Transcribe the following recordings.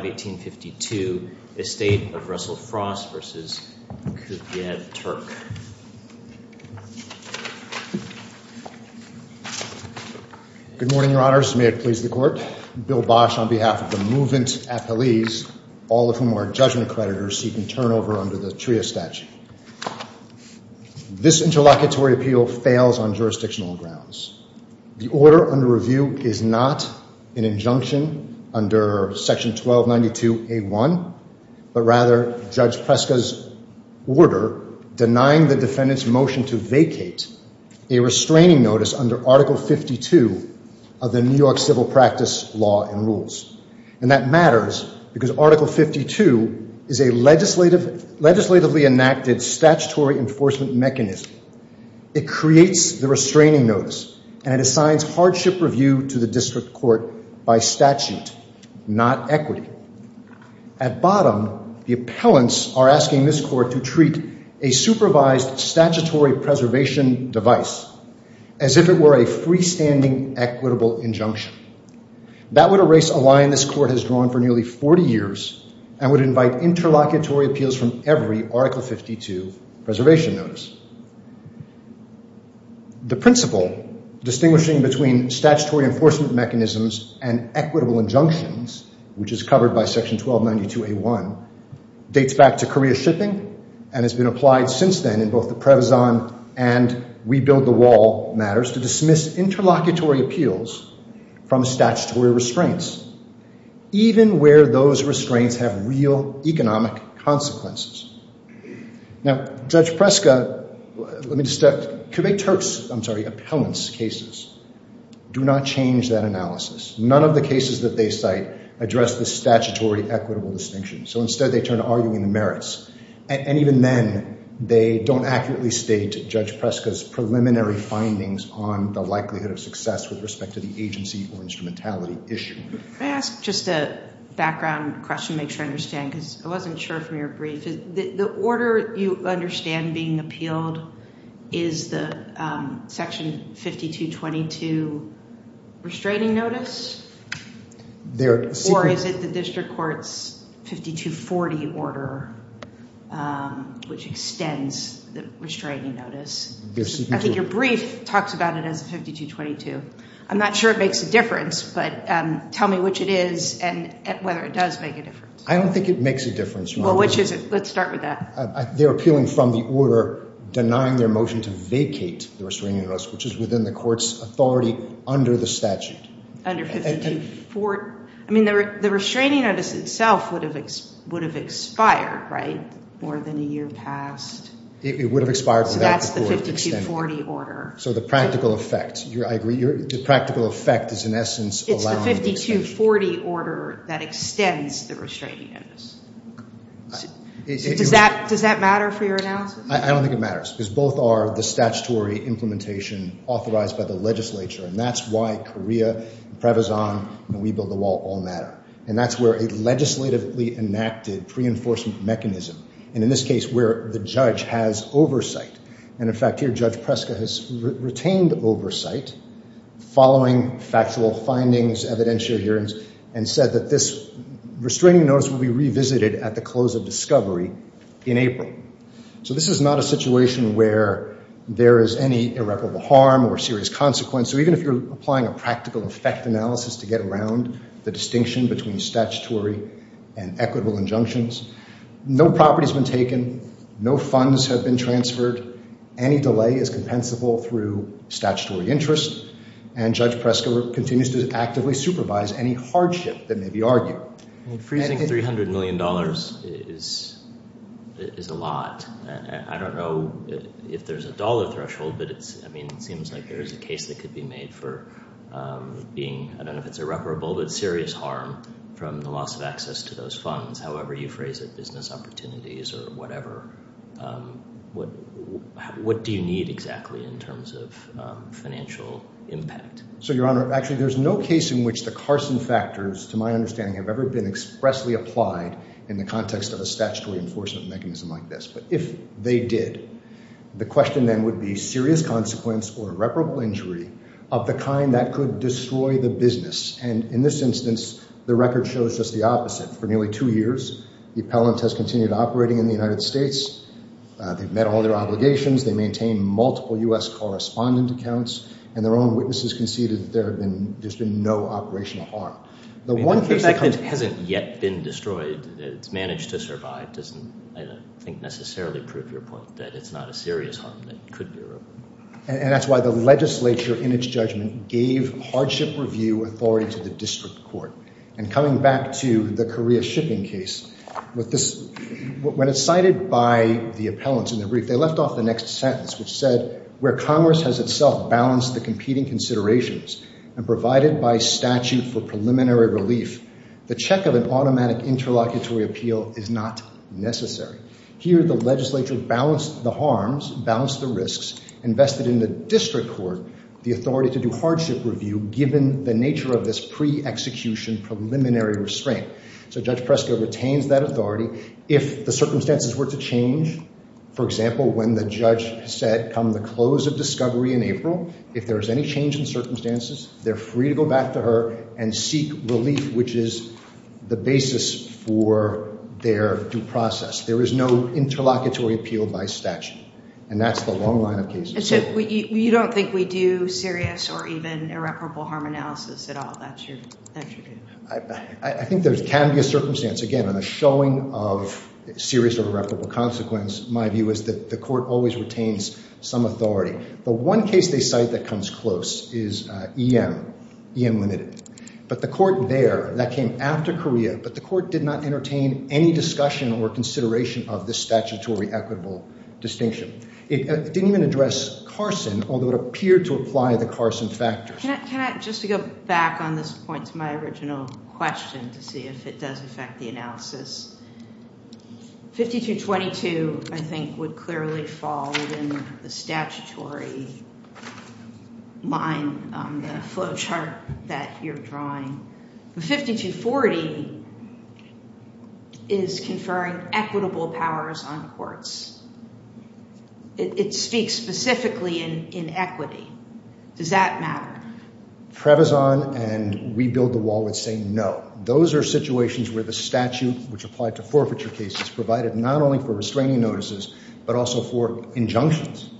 1852, Estate of Russell Frost v. Kuvjet Turk. Good morning, your honors. May it please the court. Bill Bosch on behalf of the Movement Appellees, all of whom are judgment creditors seeking turnover under the TRIA statute. This interlocutory appeal fails on jurisdictional grounds. The order under review is not an injunction under section 1292a1, but rather Judge Preska's order denying the defendant's motion to vacate a restraining notice under article 52 of the New York civil practice law and rules. And that matters because article 52 is a legislatively enacted statutory enforcement mechanism. It creates the restraining notice and it assigns hardship review to the district court by statute, not equity. At bottom, the appellants are asking this court to treat a supervised statutory preservation device as if it were a freestanding equitable injunction. That would erase a line this court has drawn for nearly 40 years and would invite interlocutory appeals from every article 52 preservation notice. The principle distinguishing between statutory enforcement mechanisms and equitable injunctions, which is covered by section 1292a1, dates back to Korea shipping and has been applied since then in both the Prevezon and We Build the Wall matters to dismiss interlocutory appeals from statutory restraints, even where those restraints have real economic consequences. Now, Judge Preska, let me just, could make Turks, I'm sorry, appellants cases do not change that analysis. None of the cases that they cite address the statutory equitable distinction. So instead, they turn to arguing the merits. And even then they don't accurately state Judge Preska's preliminary findings on the likelihood of success with respect to the agency or instrumentality issue. Can I ask just a background question to make sure I understand, because I wasn't sure from your brief. The order you understand being appealed is the section 5222 restraining notice? Or is it the district court's 5240 order, which extends the restraining notice? I think your brief talks about it as 5222. I'm not sure it makes a difference, but tell me which it is and whether it does make a difference. I don't think it makes a difference. Well, which is it? Let's start with that. They're appealing from the order, denying their motion to vacate the restraining notice, which is within the court's authority under the statute. Under 5224. I mean, the restraining notice itself would have expired, right? More than a year passed. It would have expired. So that's the 5240 order. So the practical effect. I agree. The practical effect is in essence allowing the extension. It's the 5240 order that extends the restraining notice. Does that matter for your analysis? I don't think it matters, because both are the statutory implementation authorized by the legislature. And that's why COREA, PREVAZON, and We Build the Wall all matter. And that's where a legislatively enacted pre-enforcement mechanism, and in this case where the judge has oversight. And in fact, here, Judge Preska has retained oversight following factual findings, evidentiary hearings, and said that this restraining notice will be revisited at the close of discovery in April. So this is not a situation where there is any irreparable harm or serious consequence. So even if you're applying a practical effect analysis to get around the distinction between statutory and equitable injunctions, no property has been taken, no funds have been transferred, any delay is compensable through statutory interest, and Judge Preska continues to actively supervise any hardship that may be argued. Freezing $300 million is a lot. I don't know if there's a dollar threshold, but it's, I mean, it seems like there's a case that could be made for being, I don't know if it's irreparable, but serious harm from the loss of access to those funds, however you phrase it, business opportunities or whatever. What do you need exactly in terms of financial impact? So, Your Honor, actually there's no case in which the Carson factors, to my understanding, have ever been expressly applied in the context of a statutory enforcement mechanism like this. But if they did, the question then would be serious consequence or irreparable injury of the kind that could destroy the business. And in this instance, the record shows just the opposite. For nearly two years, the appellant has continued operating in the United States, they've met all their obligations, they maintain multiple U.S. correspondent accounts, and their own witnesses conceded that there have been, there's been no operational harm. The one thing that hasn't yet been destroyed, it's managed to survive, doesn't I don't think necessarily prove your point that it's not a serious harm that could be irreparable. And that's why the legislature, in its judgment, gave hardship review authority to the district court. And coming back to the Korea shipping case, with this, when it's cited by the appellants in the brief, they left off the next sentence, which said, where Congress has itself balanced the competing considerations and provided by statute for preliminary relief, the check of an automatic interlocutory appeal is not necessary. Here, the legislature balanced the harms, balanced the risks, invested in the district court, the authority to do hardship review, given the nature of this pre-execution preliminary restraint. So Judge Presco retains that authority. If the circumstances were to change, for example, when the judge said, come the close of discovery in April, if there's any change in circumstances, they're free to go back to her and seek relief, which is the basis for their due process. There is no interlocutory appeal by statute. And that's the long line of cases. You don't think we do serious or even irreparable harm analysis at all? I think there can be a circumstance. Again, on the showing of serious or irreparable consequence, my view is that the court always retains some authority. The one case they cite that comes close is EM, EM limited. But the court there, that came after Korea, but the court did not retain any discussion or consideration of this statutory equitable distinction. It didn't even address Carson, although it appeared to apply the Carson factors. Can I just go back on this point to my original question to see if it does affect the analysis? 5222, I think, would clearly fall within the statutory line, the flow chart that you're drawing. The 5240 is conferring equitable powers on courts. It speaks specifically in equity. Does that matter? Trebizond and We Build the Wall would say no. Those are situations where the statute, which applied to forfeiture cases, provided not only for restraining notices, but also for injunctions.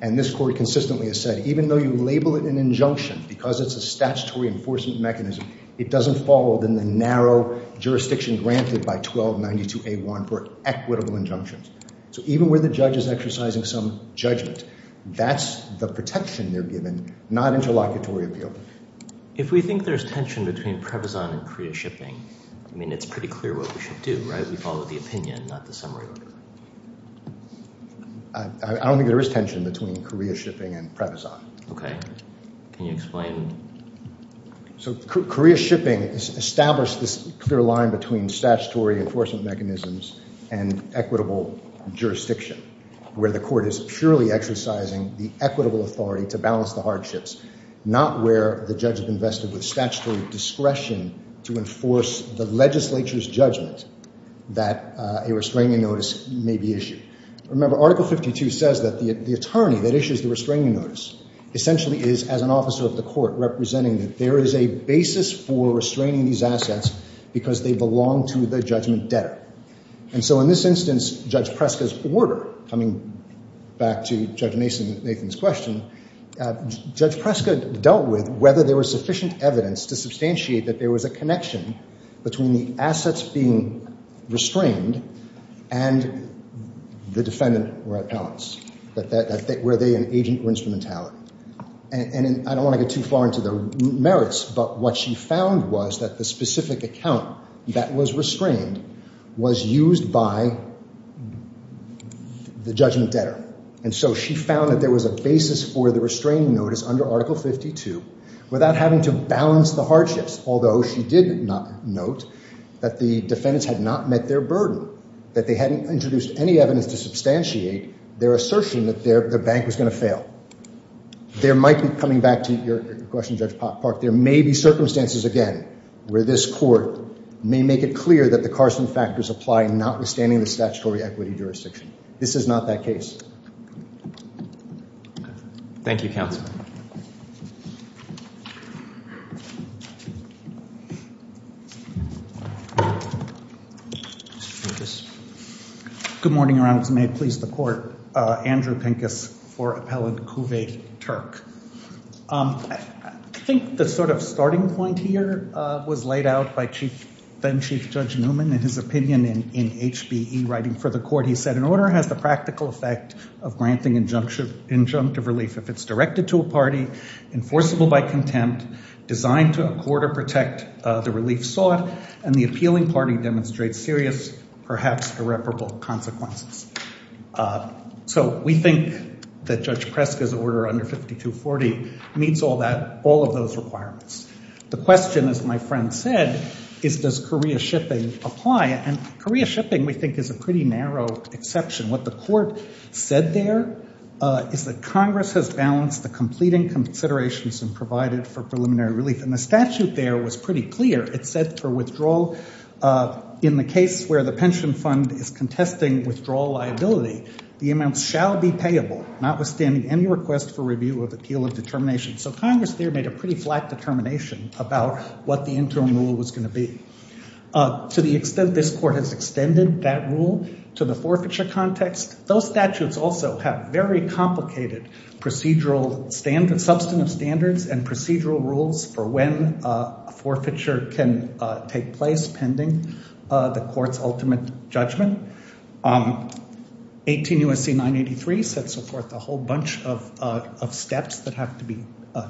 And this court consistently has said, even though you label it an injunction, because it's a statutory enforcement mechanism, it doesn't fall within the narrow jurisdiction granted by 1292A1 for equitable injunctions. So even where the judge is exercising some judgment, that's the protection they're given, not interlocutory appeal. If we think there's tension between Trebizond and Korea shipping, I mean, it's pretty clear what we should do, right? We follow the opinion, not the summary order. I don't think there is tension between Korea shipping and Trebizond. Okay. Can you explain? So Korea shipping established this clear line between statutory enforcement mechanisms and equitable jurisdiction, where the court is purely exercising the equitable authority to balance the hardships, not where the judge invested with statutory discretion to enforce the legislature's judgment that a restraining notice may be issued. Remember, Article 52 says that the attorney that issues the restraining notice essentially is, as an officer of the court, representing that there is a basis for restraining these assets because they belong to the judgment debtor. And so in this instance, Judge Preska's order, coming back to Judge Nathan's question, Judge Preska dealt with whether there was sufficient evidence to substantiate that there was a connection between the assets being restrained and the defendant or appellants, were they an agent or instrumentality. And I don't want to get too far into the merits, but what she found was that the specific account that was restrained was used by the judgment debtor. And so she found that there was a basis for the restraining notice under Article 52 without having to balance the hardships, although she did not note that the defendants had not met their burden, that they hadn't introduced any evidence to substantiate their assertion that their bank was going to fail. There might be, coming back to your question, Judge Park, there may be circumstances again where this court may make it clear that the Carson factors apply notwithstanding the statutory equity jurisdiction. This is not that case. Okay. Thank you, counsel. Mr. Pincus. Good morning, Your Honor. May it please the court. Andrew Pincus for Appellant Kuve Turk. I think the sort of starting point here was laid out by Chief, then Chief Judge of granting injunctive relief if it's directed to a party, enforceable by contempt, designed to accord or protect the relief sought, and the appealing party demonstrates serious, perhaps irreparable consequences. So we think that Judge Preska's order under 5240 meets all of those requirements. The question, as my friend said, is does Korea shipping apply? And Korea shipping we think is a pretty narrow exception. What the court said there is that Congress has balanced the completing considerations and provided for preliminary relief. And the statute there was pretty clear. It said for withdrawal in the case where the pension fund is contesting withdrawal liability, the amount shall be payable notwithstanding any request for review of appeal of determination. So Congress there made a pretty flat determination about what the interim rule was going to be. To the extent this court has extended that rule to the forfeiture context, those statutes also have very complicated procedural standards, substantive standards and procedural rules for when a forfeiture can take place pending the court's ultimate judgment. 18 U.S.C. 983 sets forth a whole bunch of steps that have to be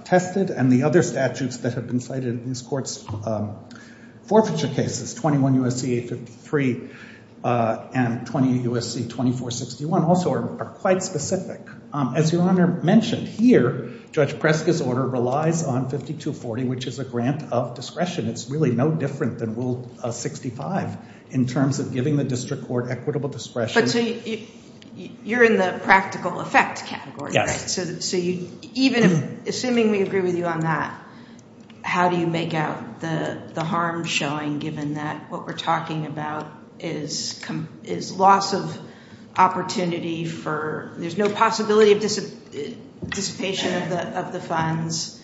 tested, and the other statutes that have been cited in this court's forfeiture cases, 21 U.S.C. 853 and 28 U.S.C. 2461 also are quite specific. As Your Honor mentioned, here Judge Preska's order relies on 5240, which is a grant of discretion. It's really no different than Rule 65 in terms of giving the district court equitable discretion. But so you're in the practical effect category, so even assuming we agree with you on that, how do you make out the harm showing given that what we're talking about is loss of opportunity for, there's no possibility of dissipation of the funds,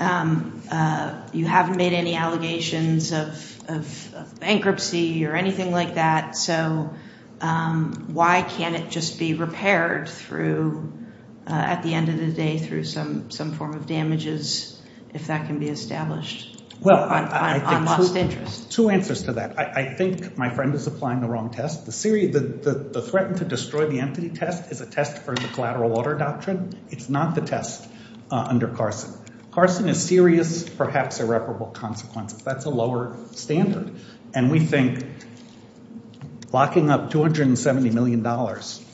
you haven't made any allegations of bankruptcy or anything like that, so why can't just be repaired at the end of the day through some form of damages if that can be established on lost interest? Two answers to that. I think my friend is applying the wrong test. The threatened to destroy the entity test is a test for the collateral order doctrine. It's not the test under Carson. Carson is serious, perhaps irreparable consequences. That's a lower standard. And we think locking up $270 million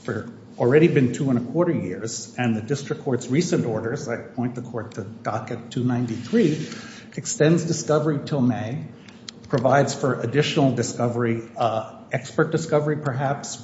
for already been two and a quarter years and the district court's recent orders, I point the court to docket 293, extends discovery until May, provides for additional discovery, expert discovery perhaps,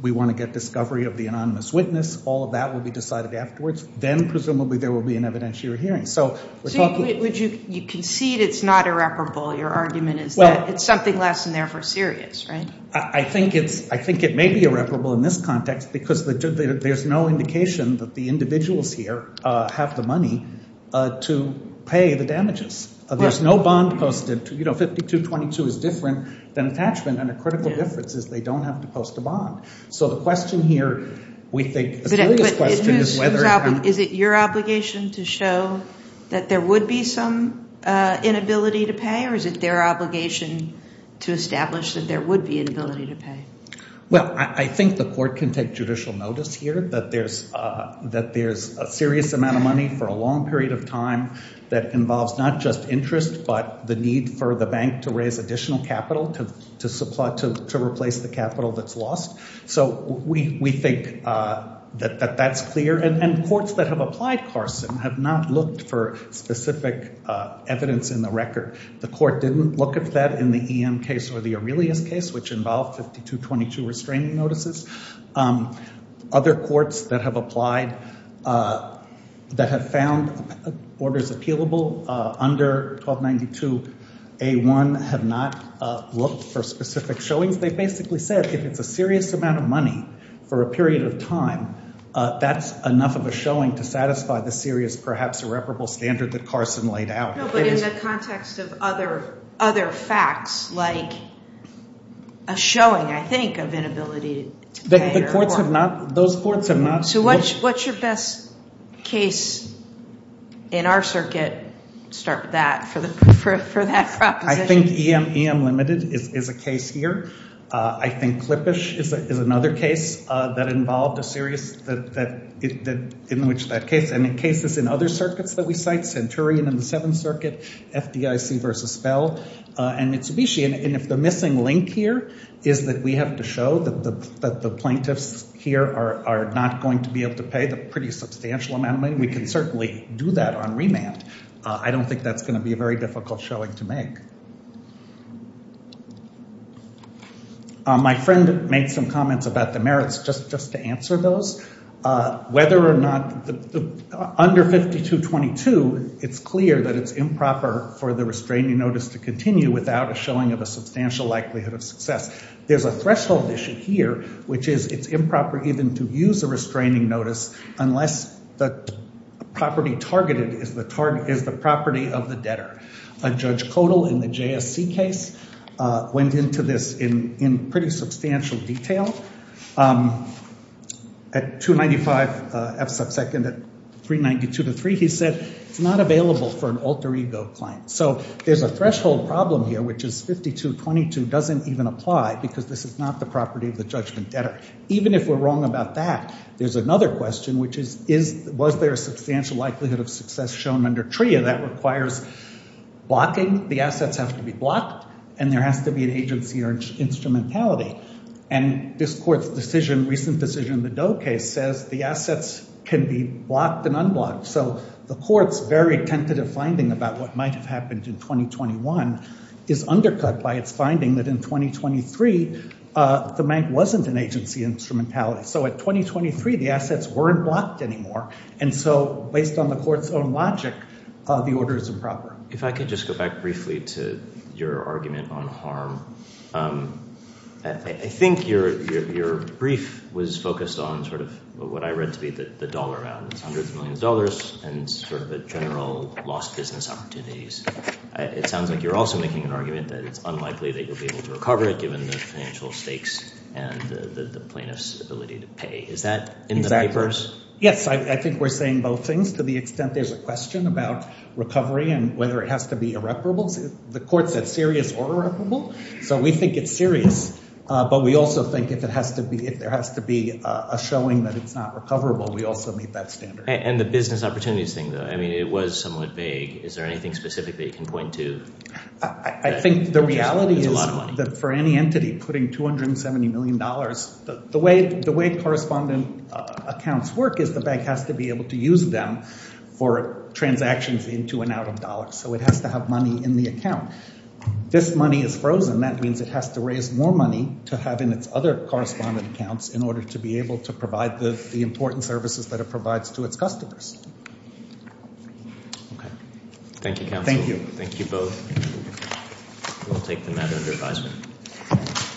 we want to get discovery of the anonymous witness, all of that will be decided afterwards, then presumably there will be an hearing. So you concede it's not irreparable, your argument is that it's something less than therefore serious, right? I think it may be irreparable in this context because there's no indication that the individuals here have the money to pay the damages. There's no bond posted, you know, 5222 is different than attachment and the critical difference is they don't have to show that there would be some inability to pay or is it their obligation to establish that there would be inability to pay? Well, I think the court can take judicial notice here that there's a serious amount of money for a long period of time that involves not just interest, but the need for the bank to raise additional capital to replace the capital that's lost. So we think that that's clear and courts that have applied Carson have not looked for specific evidence in the record. The court didn't look at that in the EM case or the Aurelius case, which involved 5222 restraining notices. Other courts that have applied that have found orders appealable under 1292A1 have not looked for specific showings. They basically said if it's a serious amount of money for a period of time, that's enough of a showing to satisfy the serious, perhaps irreparable standard that Carson laid out. No, but in the context of other facts, like a showing, I think, of inability to pay. The courts have not, those courts have not... So what's your best case in our circuit, start with that, for that proposition? I think EM limited is a case here. I think Klippisch is another case that involved a serious, in which that case, and in cases in other circuits that we cite, Centurion in the Seventh Circuit, FDIC versus Spell, and Mitsubishi. And if the missing link here is that we have to show that the plaintiffs here are not going to be able to pay the pretty substantial amount of money, we can certainly do that on remand. I don't think that's going to be a very difficult showing to make. My friend made some comments about the merits, just to answer those. Whether or not, under 5222, it's clear that it's improper for the restraining notice to continue without a showing of a substantial likelihood of success. There's a threshold issue here, which is it's improper even to use a restraining notice unless the property targeted is the property of the JSC case. Went into this in pretty substantial detail. At 295 F sub second, at 392 to 3, he said it's not available for an alter ego claim. So there's a threshold problem here, which is 5222 doesn't even apply, because this is not the property of the judgment debtor. Even if we're wrong about that, there's another question, which is, was there a substantial likelihood of success shown under TRIA? That requires blocking. The assets have to be blocked, and there has to be an agency or instrumentality. And this court's decision, recent decision, the Doe case says the assets can be blocked and unblocked. So the court's very tentative finding about what might have happened in 2021 is undercut by its finding that in 2023, the bank wasn't an agency instrumentality. So at 2023, the assets weren't blocked anymore. And so based on the court's logic, the order is improper. If I could just go back briefly to your argument on harm. I think your brief was focused on sort of what I read to be the dollar rounds, hundreds of millions of dollars, and sort of a general lost business opportunities. It sounds like you're also making an argument that it's unlikely that you'll be able to recover it given the financial stakes and the plaintiff's ability to pay. Is that in the papers? Yes, I think we're saying both things to the extent there's a question about recovery and whether it has to be irreparable. The court said serious or irreparable. So we think it's serious. But we also think if it has to be, if there has to be a showing that it's not recoverable, we also meet that standard. And the business opportunities thing, though, I mean, it was somewhat vague. Is there anything specific that you can point to? I think the reality is that for any entity putting 270 million dollars, the way correspondent accounts work is the bank has to be able to use them for transactions into and out of dollars. So it has to have money in the account. If this money is frozen, that means it has to raise more money to have in its other correspondent accounts in order to be able to provide the important services that it provides to its customers. Okay. Thank you, counsel. Thank you. Thank you both. We'll take the matter under